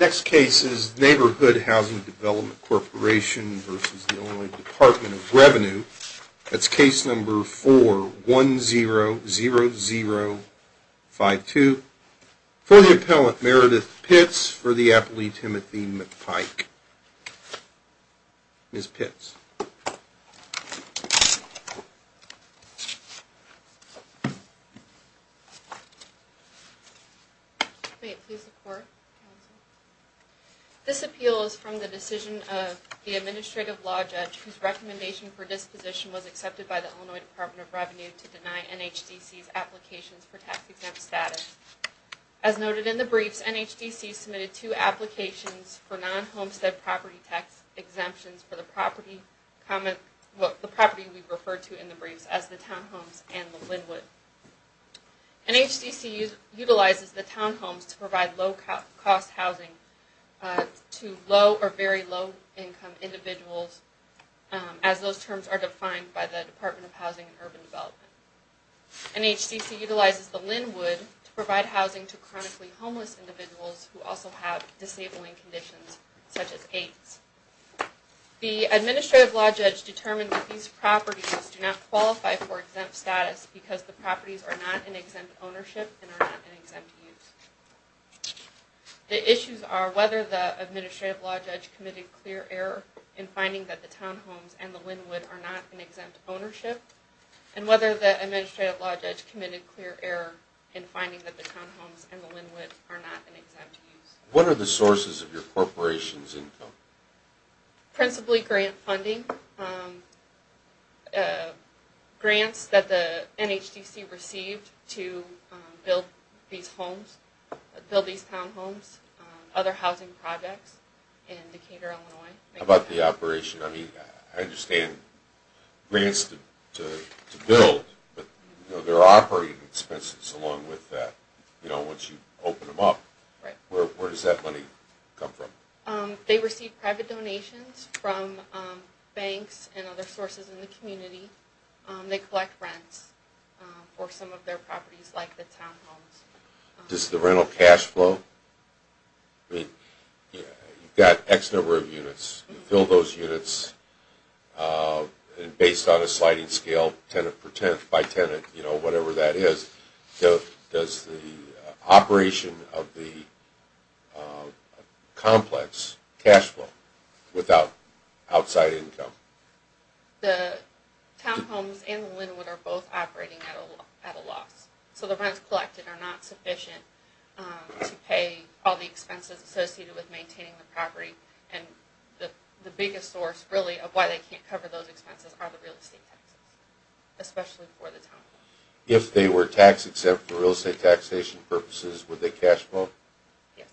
Next case is Neighborhood Housing Development Corporation v. The Illinois Department of Revenue. That's case number 4-100052. For the appellant, Meredith Pitts. For the appellee, Timothy McPike. Ms. Pitts. May it please the court, counsel. This appeal is from the decision of the administrative law judge whose recommendation for disposition was accepted by the Illinois Department of Revenue to deny NHDC's applications for tax exempt status. As noted in the briefs, NHDC submitted two applications for non-homestead property tax exemptions for the property we've referred to in the briefs as the townhomes and the Linwood. NHDC utilizes the townhomes to provide low cost housing to low or very low income individuals as those terms are defined by the Department of Housing and Urban Development. NHDC utilizes the Linwood to provide housing to chronically homeless individuals who also have disabling conditions such as AIDS. The administrative law judge determined that these properties do not qualify for exempt status because the properties are not in exempt ownership and are not in exempt use. The issues are whether the administrative law judge committed clear error in finding the townhomes and the Linwood are not in exempt ownership and whether the administrative law judge committed clear error in finding the townhomes and the Linwood are not in exempt use. What are the sources of your corporation's income? Principally grant funding. Grants that the NHDC received to build these townhomes, other housing projects in Decatur, Illinois. How about the operation? I understand grants to build, but there are operating expenses along with that. Once you open them up, where does that money come from? They receive private donations from banks and other sources in the community. They collect rents for some of their properties like the townhomes. Does the rental cash flow? You've got X number of units. You fill those units based on a sliding scale, tenant per tenant, by tenant, whatever that is. Does the operation of the complex cash flow without outside income? The townhomes and the Linwood are both operating at a loss. So the rents collected are not sufficient to pay all the expenses associated with maintaining the property. The biggest source of why they can't cover those expenses are the real estate taxes, especially for the townhomes. If they were taxed except for real estate taxation purposes, would they cash flow? Yes.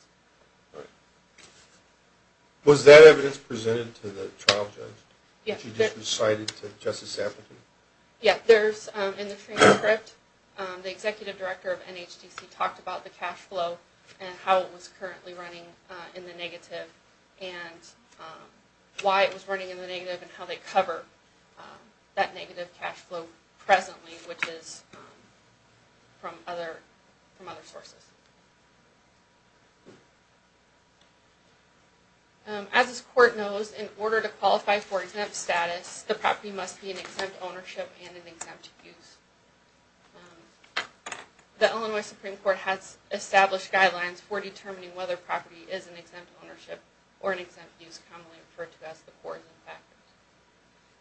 Was that evidence presented to the trial judge? Yes. In the transcript, the executive director of NHDC talked about the cash flow and how it was currently running in the negative and why it was running in the negative and how they cover that negative cash flow presently, which is from other sources. As this court knows, in order to qualify for exempt status, the property must be in exempt ownership and in exempt use. The Illinois Supreme Court has established guidelines for determining whether property is in exempt ownership or in exempt use, commonly referred to as the pores and factors.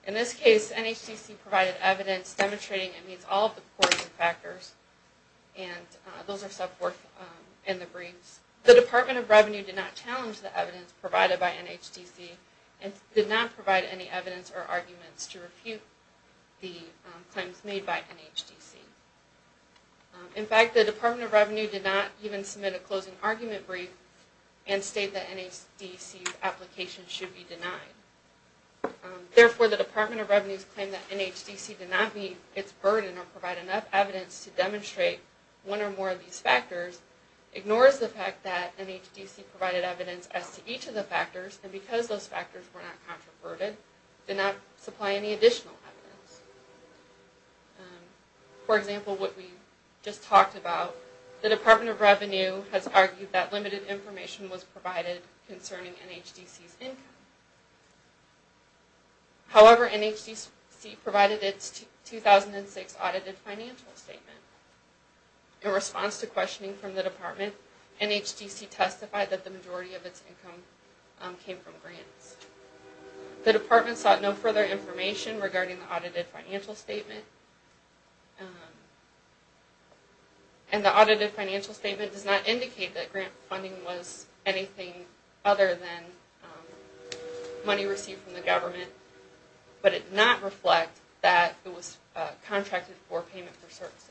In this case, NHDC provided evidence demonstrating it meets all of the pores and factors, and those are sub-four in the briefs. The Department of Revenue did not challenge the evidence provided by NHDC and did not provide any evidence or arguments to refute the claims made by NHDC. In fact, the Department of Revenue did not even submit a closing argument brief and state that NHDC's application should be denied. Therefore, the Department of Revenue's claim that NHDC did not meet its burden or provide enough evidence to demonstrate one or more of these factors ignores the fact that NHDC provided evidence as to each of the factors and because those factors were not contraverted, did not supply any additional evidence. For example, what we just talked about, the Department of Revenue has argued that limited information was provided concerning NHDC's income. However, NHDC provided its 2006 audited financial statement. In response to questioning from the Department, NHDC testified that the majority of its income came from grants. The Department sought no further information regarding the audited financial statement, and the audited financial statement does not indicate that grant funding was anything other than money received from the government, but it did not reflect that it was contracted for payment for services.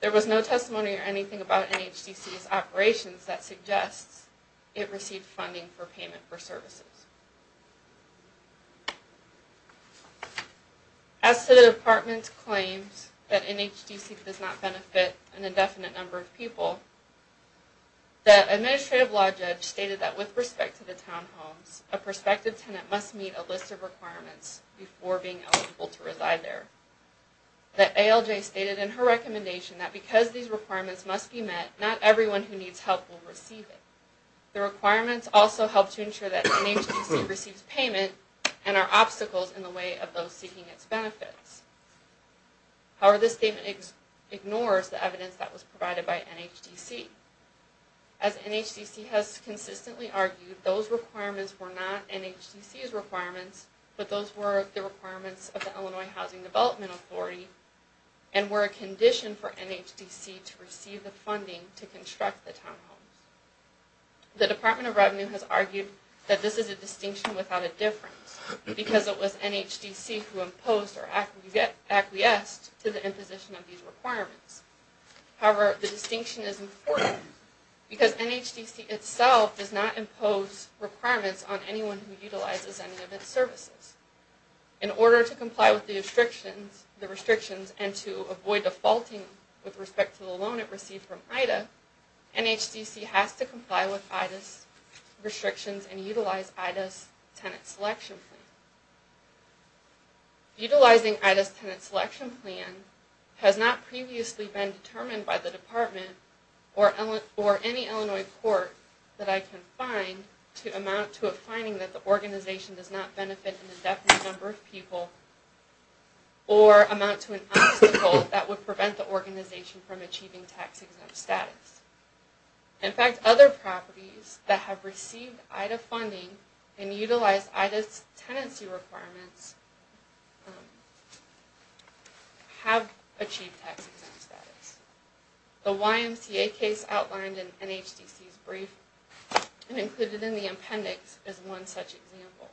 There was no testimony or anything about NHDC's operations that suggests it received funding for payment for services. As to the Department's claims that NHDC does not benefit an indefinite number of people, the Administrative Law Judge stated that with respect to the townhomes, a prospective tenant must meet a list of requirements before being eligible to reside there. The ALJ stated in her recommendation that because these requirements must be met, not everyone who needs help will receive it. The requirements also help to ensure that NHDC receives payment and are obstacles in the way of those seeking its benefits. However, this statement ignores the evidence that was provided by NHDC. As NHDC has consistently argued, those requirements were not NHDC's requirements, but those were the requirements of the Illinois Housing Development Authority and were a condition for NHDC to receive the funding to construct the townhomes. The Department of Revenue has argued that this is a distinction without a difference, because it was NHDC who imposed or acquiesced to the imposition of these requirements. However, the distinction is important because NHDC itself does not impose requirements on anyone who utilizes any of its services. In order to comply with the restrictions and to avoid defaulting with respect to the loan it received from IDA, NHDC has to comply with IDA's restrictions and utilize IDA's Tenant Selection Plan. Utilizing IDA's Tenant Selection Plan has not previously been determined by the Department or any Illinois court that I can find to amount to a finding that the organization does not benefit an indefinite number of people or amount to an obstacle that would prevent the organization from achieving tax-exempt status. In fact, other properties that have received IDA funding and utilized IDA's tenancy requirements have achieved tax-exempt status. The YMCA case outlined in NHDC's brief and included in the appendix is one such example.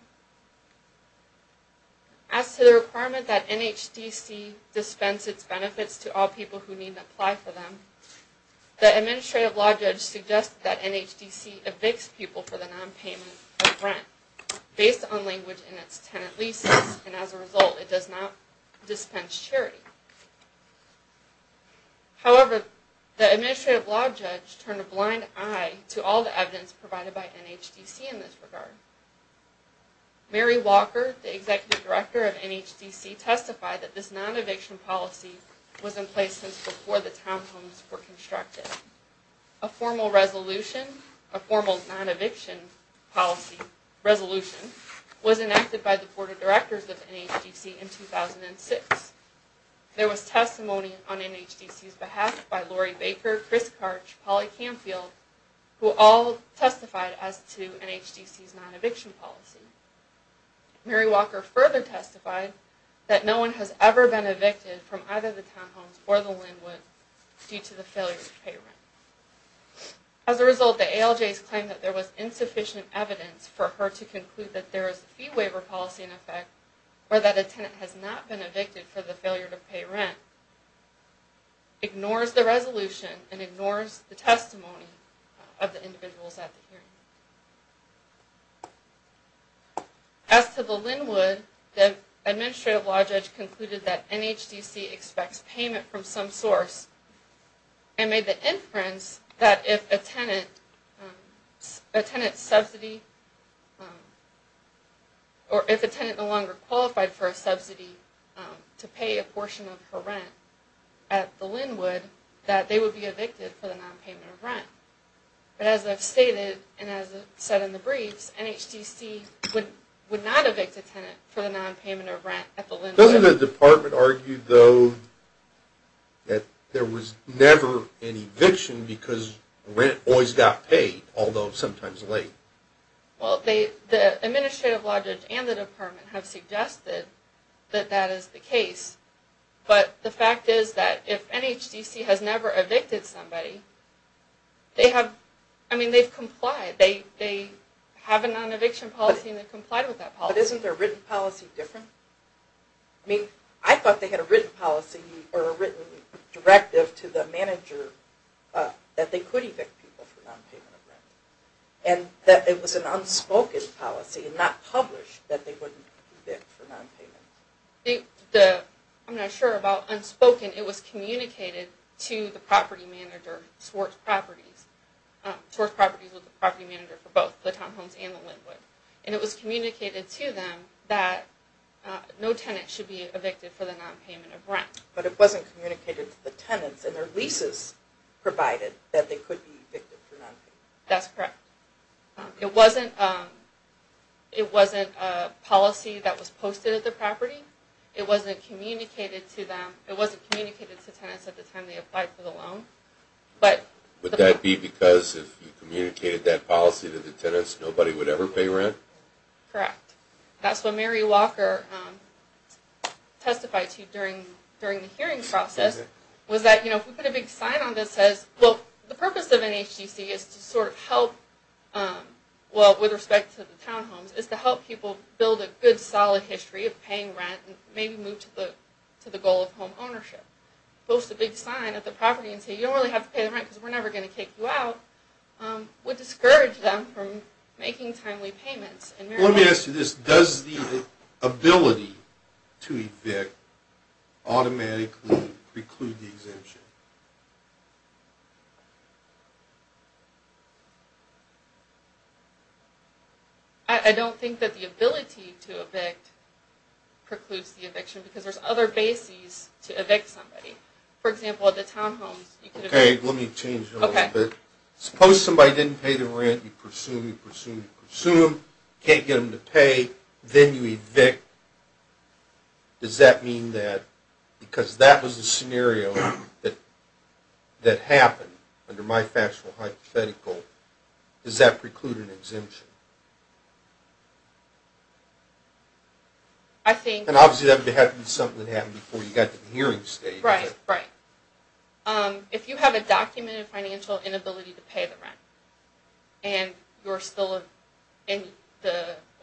As to the requirement that NHDC dispense its benefits to all people who need to apply for them, the Administrative Law Judge suggested that NHDC evicts people for the non-payment of rent based on language in its tenant leases and as a result, it does not dispense charity. However, the Administrative Law Judge turned a blind eye to all the evidence provided by NHDC in this regard. Mary Walker, the Executive Director of NHDC, testified that this non-eviction policy was in place since before the townhomes were constructed. A formal non-eviction resolution was enacted by the Board of Directors of NHDC in 2006. There was testimony on NHDC's behalf by Lori Baker, Chris Karch, and Polly Canfield, who all testified as to NHDC's non-eviction policy. Mary Walker further testified that no one has ever been evicted from either the townhomes or the Linwood due to the failure to pay rent. As a result, the ALJ's claim that there was insufficient evidence for her to conclude that there is a fee waiver policy in effect or that a tenant has not been evicted for the failure to pay rent ignores the resolution and ignores the testimony of the individuals at the hearing. As to the Linwood, the Administrative Law Judge concluded that NHDC expects payment from some source and made the inference that if a tenant no longer qualified for a subsidy to pay a portion of her rent at the Linwood that they would be evicted for the non-payment of rent. But as I've stated and as I've said in the briefs, NHDC would not evict a tenant for the non-payment of rent at the Linwood. Doesn't the Department argue, though, that there was never an eviction because rent always got paid, although sometimes late? Well, the Administrative Law Judge and the Department have suggested that that is the case, but the fact is that if NHDC has never evicted somebody, they've complied. They have a non-eviction policy and they've complied with that policy. But isn't their written policy different? I mean, I thought they had a written policy or a written directive to the manager that they could evict people for non-payment of rent and that it was an unspoken policy and not published that they wouldn't evict for non-payment. I'm not sure about unspoken. It was communicated to the property manager, Swartz Properties. Swartz Properties was the property manager for both the Tom Holmes and the Linwood. And it was communicated to them that no tenant should be evicted for the non-payment of rent. But it wasn't communicated to the tenants and their leases provided that they could be evicted for non-payment. That's correct. It wasn't a policy that was posted at the property. It wasn't communicated to them. It wasn't communicated to tenants at the time they applied for the loan. Would that be because if you communicated that policy to the tenants, nobody would ever pay rent? Correct. That's what Mary Walker testified to during the hearing process. Was that, you know, if we put a big sign on this that says, well, the purpose of an HTC is to sort of help, well, with respect to the Tom Holmes, is to help people build a good solid history of paying rent and maybe move to the goal of home ownership. Post a big sign at the property and say, you don't really have to pay the rent because we're never going to kick you out, would discourage them from making timely payments. Let me ask you this. Does the ability to evict automatically preclude the exemption? I don't think that the ability to evict precludes the eviction because there's other bases to evict somebody. For example, at the Tom Holmes, you could evict… Does that mean that because that was the scenario that happened under my factual hypothetical, does that preclude an exemption? I think… And obviously that would have to be something that happened before you got to the hearing stage. Right, right. If you have a documented financial inability to pay the rent and the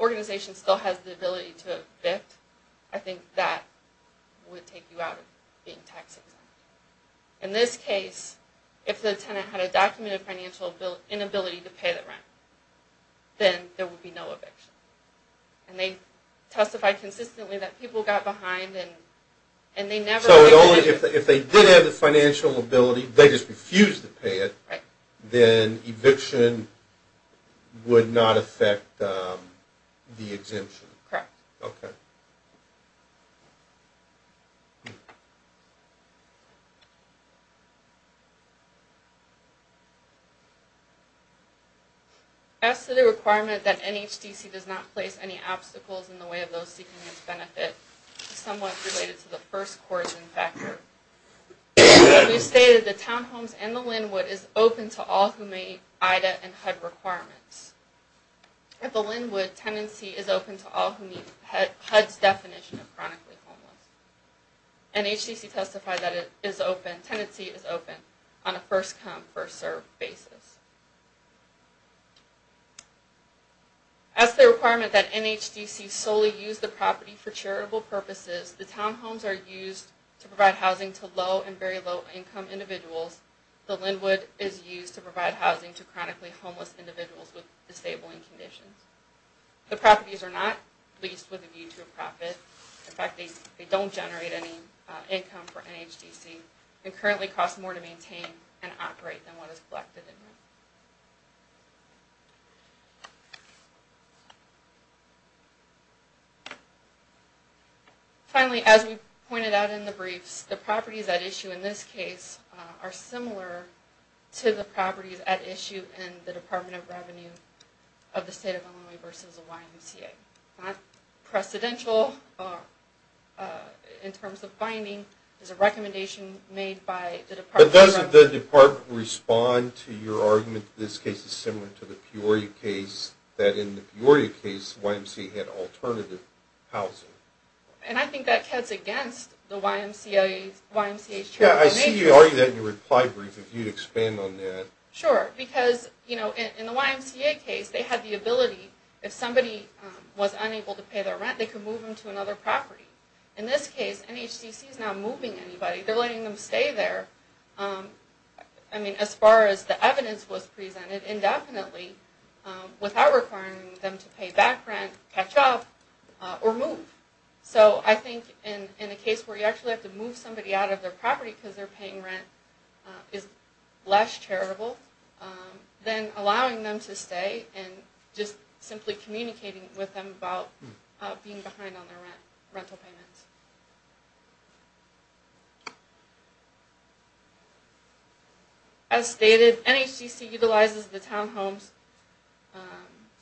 organization still has the ability to evict, I think that would take you out of being tax exempt. In this case, if the tenant had a documented financial inability to pay the rent, then there would be no eviction. And they testified consistently that people got behind and they never… So if they did have the financial ability, they just refused to pay it, then eviction would not affect the exemption? Correct. Okay. Thank you. As to the requirement that NHDC does not place any obstacles in the way of those seeking its benefit, it's somewhat related to the first coercion factor. We've stated that Tom Holmes and the Linwood is open to all who meet IDA and HUD requirements. At the Linwood, tenancy is open to all who meet HUD's definition of chronically homeless. NHDC testified that it is open…tenancy is open on a first-come, first-served basis. As to the requirement that NHDC solely use the property for charitable purposes, the Tom Holmes are used to provide housing to low and very low income individuals. The Linwood is used to provide housing to chronically homeless individuals with disabling conditions. The properties are not leased with a view to a profit. In fact, they don't generate any income for NHDC and currently cost more to maintain and operate than what is collected in rent. Finally, as we pointed out in the briefs, the properties at issue in this case are similar to the properties at issue in the Department of Revenue of the State of Illinois versus the YMCA. Not precedential in terms of binding. It's a recommendation made by the Department of Revenue. But doesn't the department respond to your argument that this case is similar to the Peoria case, that in the Peoria case, YMCA had alternative housing? And I think that cuts against the YMCA's charitable nature. Yeah, I see you argue that in your reply brief, if you'd expand on that. Sure, because, you know, in the YMCA case, they had the ability, if somebody was unable to pay their rent, they could move them to another property. In this case, NHDC is not moving anybody. They're letting them stay there. I mean, as far as the evidence was presented, indefinitely, without requiring them to pay back rent, catch up, or move. So I think in a case where you actually have to move somebody out of their property because they're paying rent is less charitable than allowing them to stay and just simply communicating with them about being behind on their rental payments. As stated, NHDC utilizes the townhomes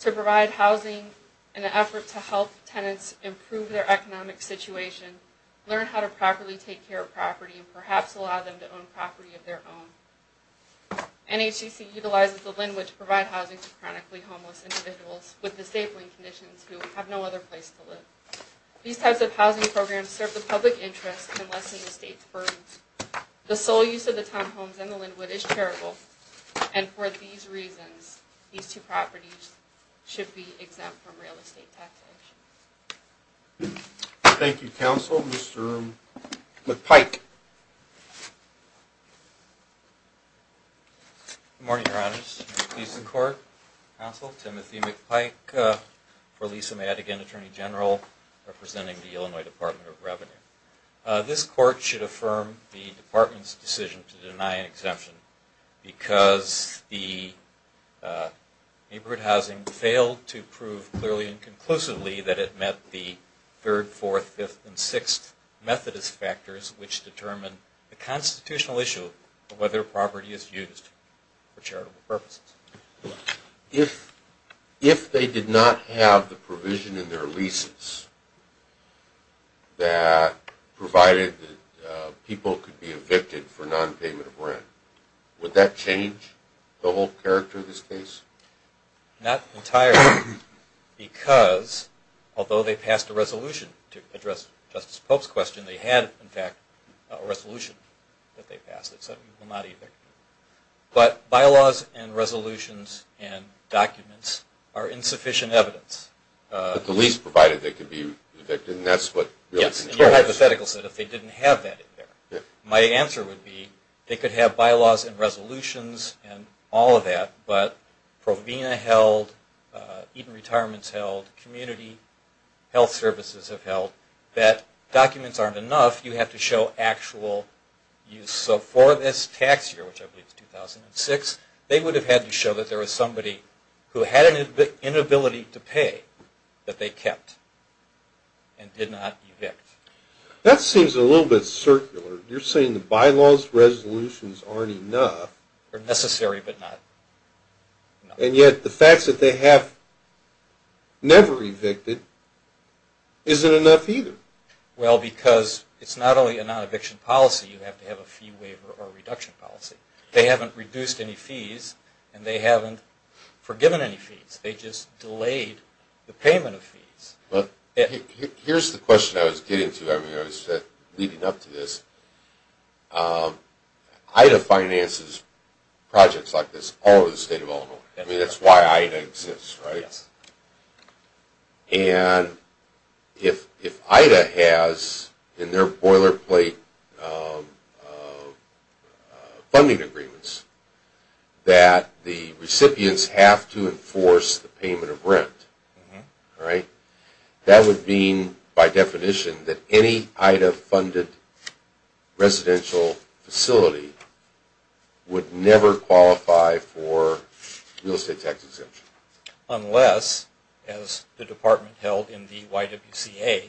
to provide housing in an effort to help tenants improve their economic situation, learn how to properly take care of property, and perhaps allow them to own property of their own. NHDC utilizes the Linnwood to provide housing to chronically homeless individuals with disabling conditions who have no other place to live. These types of housing programs serve the public interest and lessen the state's burden. The sole use of the townhomes and the Linnwood is charitable, and for these reasons, these two properties should be exempt from real estate taxation. Thank you, Counsel. Mr. McPike. Good morning, Your Honors. Please support Counsel Timothy McPike for Lisa Madigan, Attorney General, representing the Illinois Department of Revenue. This Court should affirm the Department's decision to deny an exemption because the neighborhood housing failed to prove clearly and conclusively that it met the third, fourth, fifth, and sixth Methodist factors which determine the constitutional issue of whether a property is used for charitable purposes. If they did not have the provision in their leases that provided that people could be evicted for non-payment of rent, would that change the whole character of this case? Not entirely, because although they passed a resolution to address Justice Pope's question, they had, in fact, a resolution that they passed that said people were not evicted. But bylaws and resolutions and documents are insufficient evidence. But the lease provided they could be evicted, and that's what really controls it. Yes, and your hypothetical said if they didn't have that in there. My answer would be they could have bylaws and resolutions and all of that, but Provena held, Eaton Retirements held, community health services have held, that documents aren't enough. You have to show actual use. So for this tax year, which I believe is 2006, they would have had to show that there was somebody who had an inability to pay that they kept and did not evict. That seems a little bit circular. You're saying the bylaws and resolutions aren't enough. They're necessary, but not enough. And yet the fact that they have never evicted isn't enough either. Well, because it's not only a non-eviction policy, you have to have a fee waiver or reduction policy. They haven't reduced any fees, and they haven't forgiven any fees. They just delayed the payment of fees. Here's the question I was getting to leading up to this. Ida finances projects like this all over the state of Illinois. I mean, that's why Ida exists, right? And if Ida has in their boilerplate funding agreements that the recipients have to enforce the payment of rent, that would mean by definition that any Ida-funded residential facility would never qualify for real estate tax exemption. Unless, as the department held in the YWCA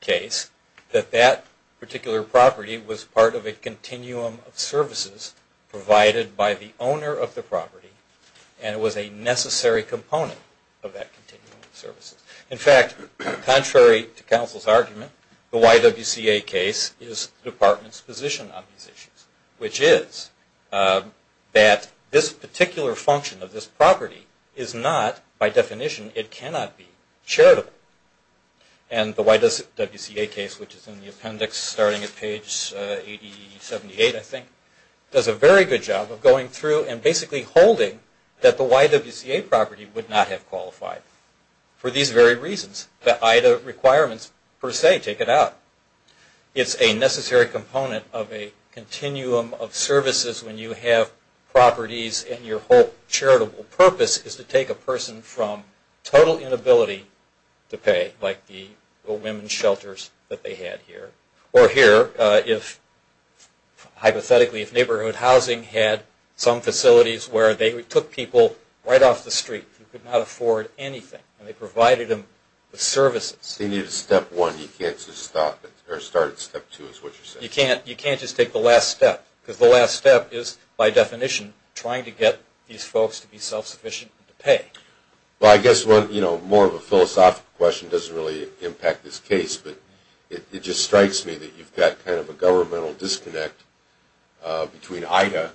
case, that that particular property was part of a continuum of services provided by the owner of the property, and it was a necessary component of that continuum of services. In fact, contrary to counsel's argument, the YWCA case is the department's position on these issues, which is that this particular function of this property is not, by definition, it cannot be charitable. And the YWCA case, which is in the appendix starting at page 78, I think, does a very good job of going through and basically holding that the YWCA property would not have qualified for these very reasons. The Ida requirements, per se, take it out. It's a necessary component of a continuum of services when you have properties and your whole charitable purpose is to take a person from total inability to pay, like the women's shelters that they had here, or here, if, hypothetically, if neighborhood housing had some facilities where they took people right off the street who could not afford anything, and they provided them with services. They needed a step one. You can't just stop it, or start at step two, is what you're saying. You can't just take the last step, because the last step is, by definition, trying to get these folks to be self-sufficient and to pay. Well, I guess more of a philosophical question doesn't really impact this case, but it just strikes me that you've got kind of a governmental disconnect between Ida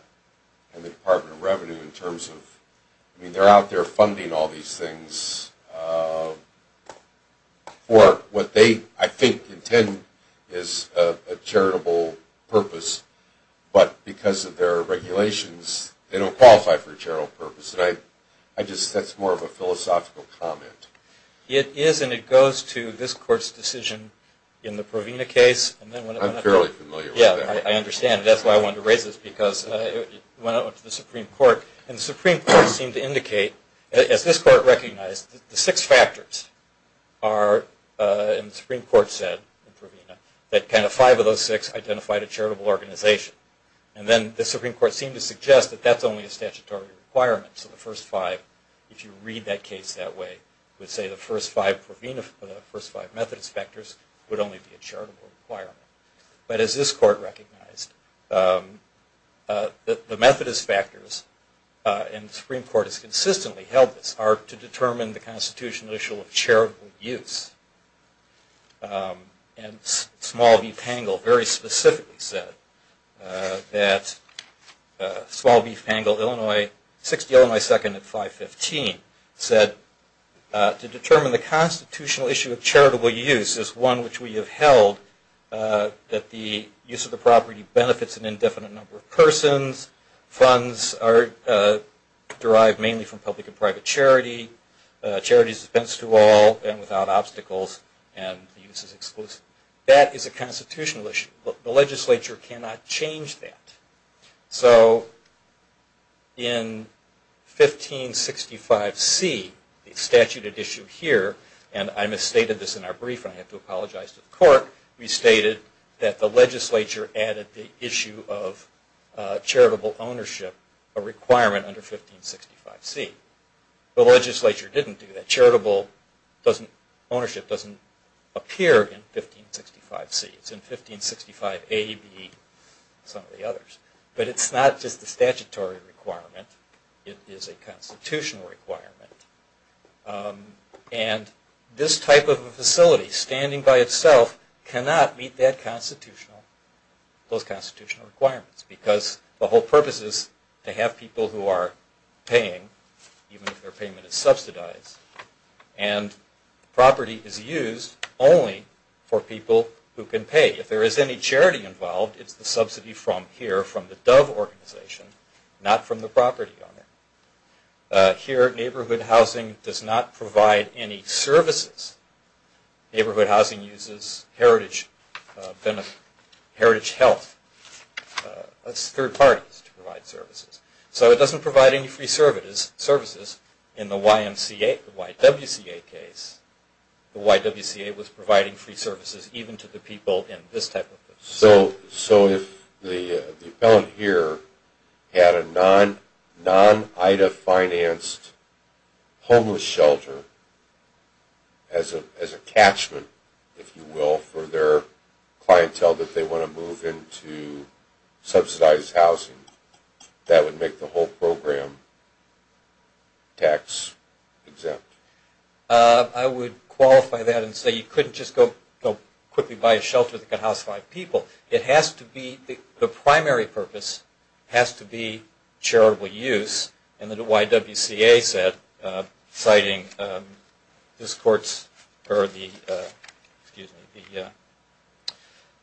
and the Department of Revenue in terms of, I mean, they're out there funding all these things for what they, I think, intend is a charitable purpose, but because of their regulations, they don't qualify for charitable purpose. And I just, that's more of a philosophical comment. It is, and it goes to this court's decision in the Provena case. I'm fairly familiar with that. Yeah, I understand. That's why I wanted to raise this, because it went out to the Supreme Court, and the Supreme Court seemed to indicate, as this court recognized, the six factors are, and the Supreme Court said in Provena, that kind of five of those six identified a charitable organization. And then the Supreme Court seemed to suggest that that's only a statutory requirement. So the first five, if you read that case that way, would say the first five Provena, the first five Methodist factors would only be a charitable requirement. But as this court recognized, the Methodist factors, and the Supreme Court has consistently held this, are to determine the constitutional issue of charitable use. And Small Beef Pangle very specifically said that, Small Beef Pangle, Illinois, 60 Illinois 2nd at 515, said, to determine the constitutional issue of charitable use is one which we have held that the use of the property benefits an indefinite number of persons, funds are derived mainly from public and private charity, charity is dispensed to all and without obstacles, and the use is exclusive. That is a constitutional issue. The legislature cannot change that. So in 1565C, the statute at issue here, and I misstated this in our brief, and I have to apologize to the court, we stated that the legislature added the issue of charitable ownership, a requirement under 1565C. The legislature didn't do that. Charitable ownership doesn't appear in 1565C. It's in 1565A, B, and some of the others. But it's not just a statutory requirement. It is a constitutional requirement. And this type of a facility standing by itself cannot meet those constitutional requirements because the whole purpose is to have people who are paying, even if their payment is subsidized, and property is used only for people who can pay. If there is any charity involved, it's the subsidy from here, from the Dove organization, not from the property owner. Here, neighborhood housing does not provide any services. Neighborhood housing uses heritage health. That's third parties to provide services. So it doesn't provide any free services. In the YMCA, the YWCA case, the YWCA was providing free services even to the people in this type of place. So if the appellant here had a non-IDA-financed homeless shelter as a catchment, if you will, for their clientele that they want to move into subsidized housing, that would make the whole program tax-exempt. I would qualify that and say you couldn't just go quickly buy a shelter that could house five people. It has to be, the primary purpose has to be charitable use. And the YWCA said, citing this court's, or the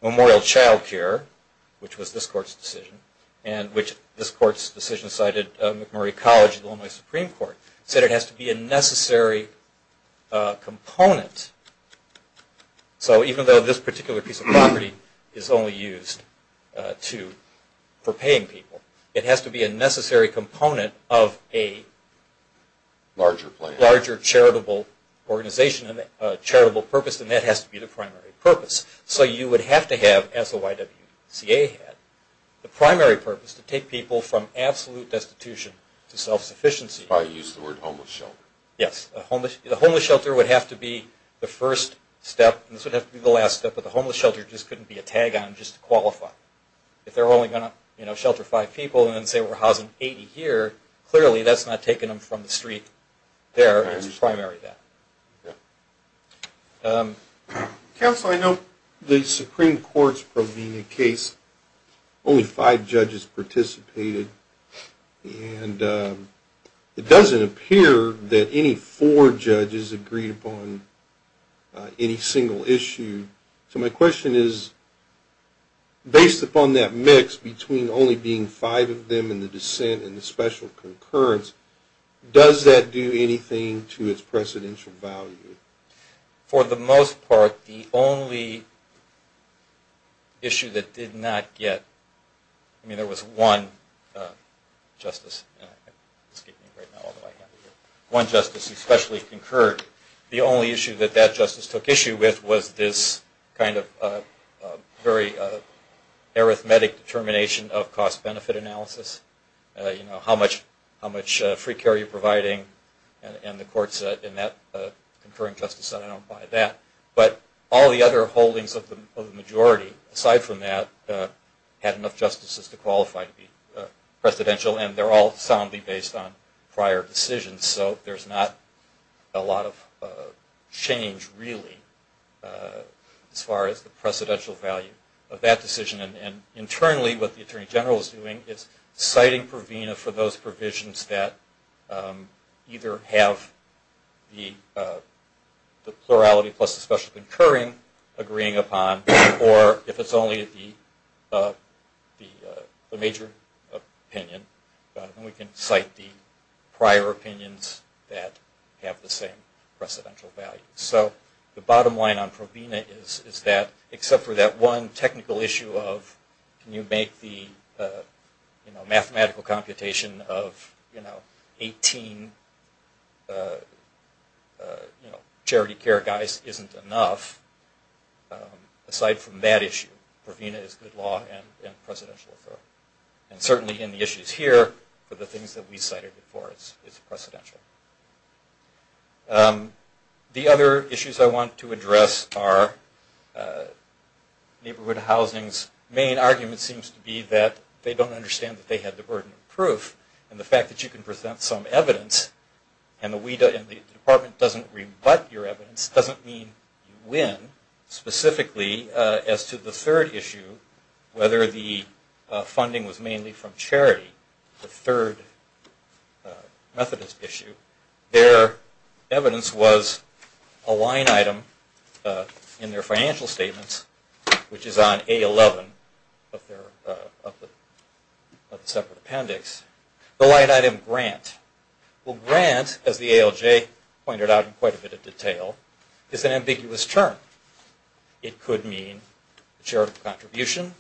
Memorial Child Care, which was this court's decision, and which this court's decision cited McMurray College, the Illinois Supreme Court, said it has to be a necessary component. So even though this particular piece of property is only used for paying people, it has to be a necessary component of a larger charitable organization and charitable purpose, and that has to be the primary purpose. So you would have to have, as the YWCA had, the primary purpose to take people from absolute destitution to self-sufficiency. You probably used the word homeless shelter. Yes. The homeless shelter would have to be the first step, and this would have to be the last step, but the homeless shelter just couldn't be a tag-on just to qualify. If they're only going to shelter five people and then say we're housing 80 here, clearly that's not taking them from the street there. It's the primary there. Counsel, I know the Supreme Court's provenia case, only five judges participated, and it doesn't appear that any four judges agreed upon any single issue. So my question is, based upon that mix between only being five of them in the dissent and the special concurrence, does that do anything to its precedential value? For the most part, the only issue that did not get, I mean there was one justice, one justice especially concurred. The only issue that that justice took issue with was this kind of very arithmetic determination of cost-benefit analysis, how much free care you're providing, and the courts in that concurring justice center don't buy that. But all the other holdings of the majority, aside from that, had enough justices to qualify to be precedential, and they're all soundly based on prior decisions. So there's not a lot of change really as far as the precedential value of that decision. And internally what the Attorney General is doing is citing provenia for those provisions that either have the plurality plus the special concurring agreeing upon, or if it's only the major opinion, then we can cite the prior opinions that have the same precedential value. So the bottom line on provenia is that except for that one technical issue of can you make the mathematical computation of 18 charity care guys isn't enough, aside from that issue, provenia is good law and precedential authority. And certainly in the issues here, for the things that we cited before, it's precedential. The other issues I want to address are neighborhood housings. The main argument seems to be that they don't understand that they have the burden of proof, and the fact that you can present some evidence and the department doesn't rebut your evidence doesn't mean you win. Specifically as to the third issue, whether the funding was mainly from charity, the third Methodist issue, their evidence was a line item in their financial statements, which is on A11 of the separate appendix, the line item grant. Well grant, as the ALJ pointed out in quite a bit of detail, is an ambiguous term. It could mean a charitable contribution,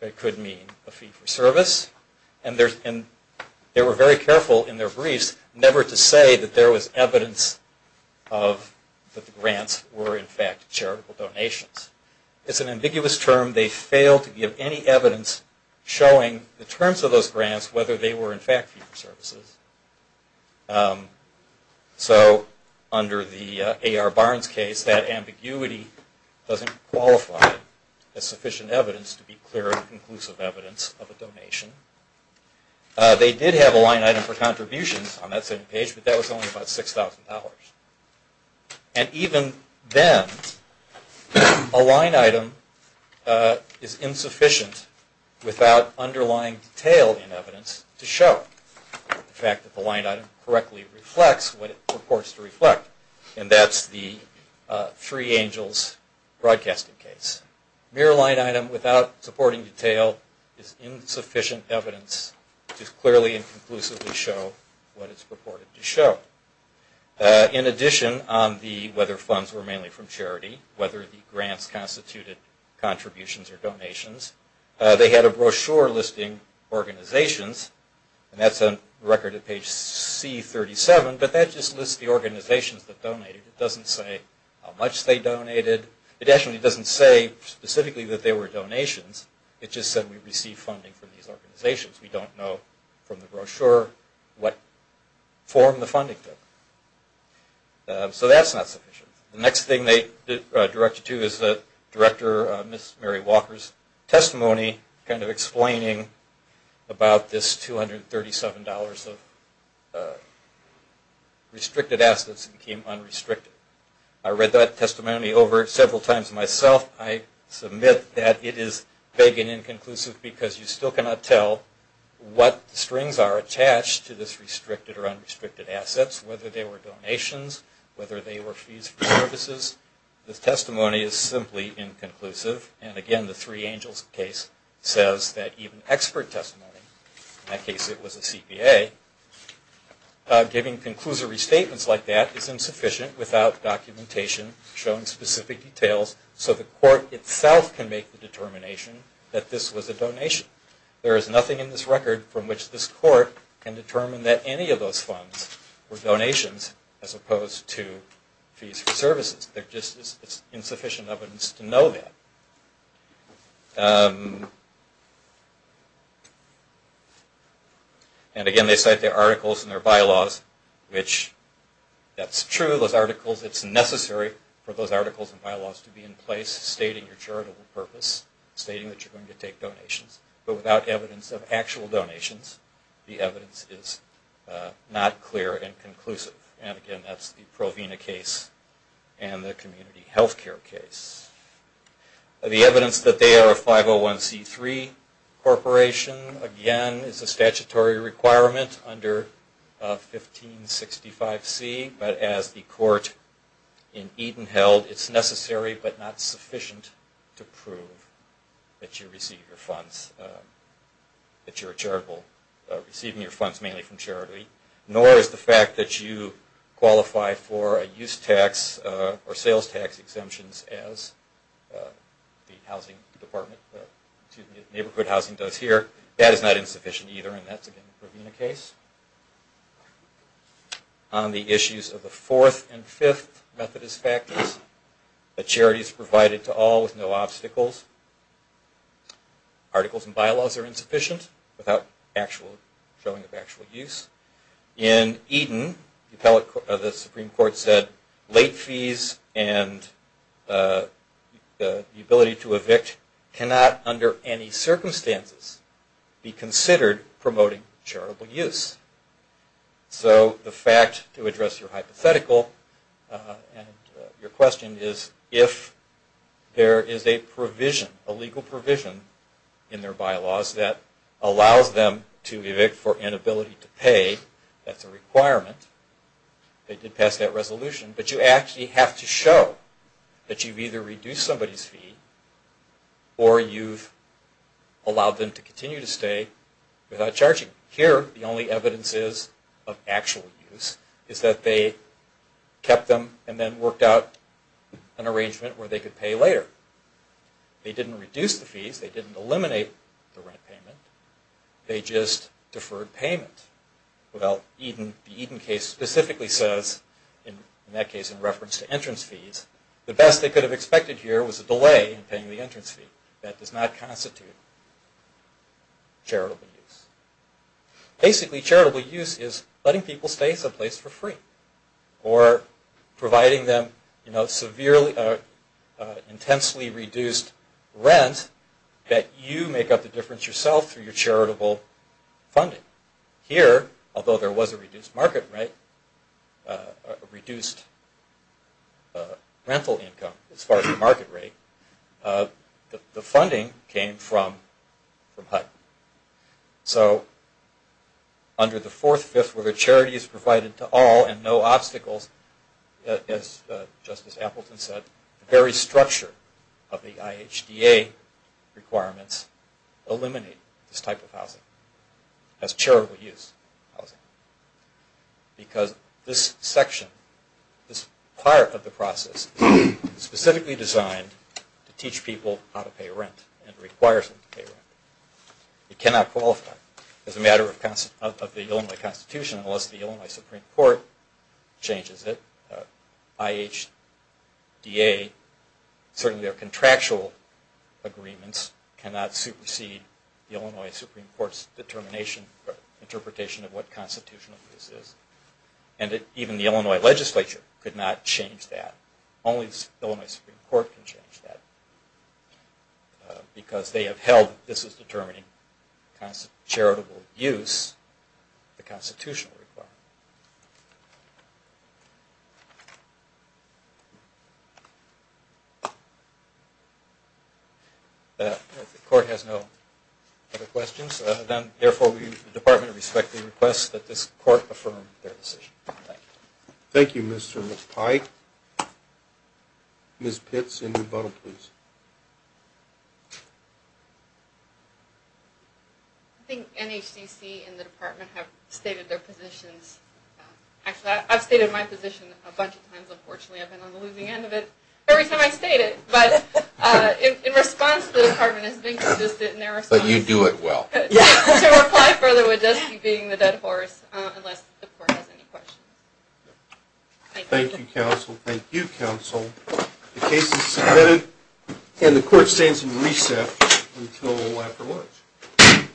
it could mean a fee for service, and they were very careful in their briefs never to say that there was evidence that the grants were in fact charitable donations. It's an ambiguous term. They failed to give any evidence showing the terms of those grants whether they were in fact fee for services. So under the A.R. Barnes case, that ambiguity doesn't qualify as sufficient evidence to be clear and conclusive evidence of a donation. They did have a line item for contributions on that same page, but that was only about $6,000. And even then, a line item is insufficient without underlying detail in evidence to show. The fact that the line item correctly reflects what it purports to reflect, and that's the Three Angels broadcasting case. A mere line item without supporting detail is insufficient evidence to clearly and conclusively show what it's purported to show. In addition, on the whether funds were mainly from charity, whether the grants constituted contributions or donations, they had a brochure listing organizations, and that's on record at page C37, but that just lists the organizations that donated. It doesn't say how much they donated. It actually doesn't say specifically that they were donations. It just said we received funding from these organizations. We don't know from the brochure what form the funding took. So that's not sufficient. The next thing they directed to is Director Mary Walker's testimony explaining about this $237 of restricted assets that became unrestricted. I read that testimony over several times myself. I submit that it is vague and inconclusive because you still cannot tell what strings are attached to this restricted or unrestricted assets, whether they were donations, whether they were fees for services. The testimony is simply inconclusive, and again the Three Angels case says that even expert testimony, in that case it was a CPA, giving conclusory statements like that is insufficient without documentation showing specific details so the court itself can make the determination that this was a donation. There is nothing in this record from which this court can determine that any of those funds were donations as opposed to fees for services. There just is insufficient evidence to know that. And again they cite their articles and their bylaws, which that's true, those articles, it's necessary for those articles and bylaws to be in place stating your charitable purpose, stating that you're going to take donations, but without evidence of actual donations the evidence is not clear and conclusive. And again that's the Provena case and the community health care case. The evidence that they are a 501C3 corporation again is a statutory requirement under 1565C, but as the court in Eden held it's necessary but not that you receive your funds, that you're receiving your funds mainly from charity, nor is the fact that you qualify for a use tax or sales tax exemptions as the housing department, neighborhood housing does here, that is not insufficient either and that's again the Provena case. On the issues of the fourth and fifth Methodist Factors, that charity is provided to all with no obstacles. Articles and bylaws are insufficient without showing of actual use. In Eden, the Supreme Court said late fees and the ability to evict cannot under any circumstances be considered promoting charitable use. So the fact to address your hypothetical and your question is if there is a provision, a limit to the amount of charitable use that can be provided, if there is a legal provision in their bylaws that allows them to evict for inability to pay, that's a requirement, they did pass that resolution, but you actually have to show that you've either reduced somebody's fee or you've allowed them to continue to stay without charging. Here the only evidence is of actual use is that they kept them and then worked out an arrangement where they could pay later. They didn't reduce the fees, they didn't eliminate the rent payment, they just deferred payment. Well, the Eden case specifically says, in that case in reference to entrance fees, the best they could have expected here was a delay in paying the entrance fee. That does not constitute charitable use. Basically charitable use is letting people stay someplace for free or providing them severely, intensely reduced rent that you make up the difference yourself through your charitable funding. Here, although there was a reduced market rate, a reduced rental income as far as the market rate, the funding came from HUD. So under the fourth, fifth, whether it's HUD or HUD, just as Appleton said, the very structure of the IHDA requirements eliminate this type of housing as charitable use housing. Because this section, this part of the process is specifically designed to teach people how to pay rent and requires them to pay rent. It cannot qualify as a matter of the Illinois Constitution unless the Illinois Supreme Court changes it, IHDA. Certainly their contractual agreements cannot supersede the Illinois Supreme Court's determination or interpretation of what constitutional this is. And even the Illinois legislature could not change that. Only the Illinois Supreme Court can change that because they have held this is determining charitable use, the constitutional requirement. If the court has no other questions, then therefore the department respectfully requests that this court affirm their decision. Thank you, Mr. and Ms. Pike. Ms. Pitts, in rebuttal, please. I think NHCC and the department have stated their positions. Actually, I've stated my position a bunch of times, unfortunately. I've been on the losing end of it every time I've stated it. But in response, the department has been consistent in their response. But you do it well. To reply further would just be beating the dead horse, unless the court has any questions. Thank you, counsel. Thank you, counsel. The case is submitted and the court stands in recess until after lunch.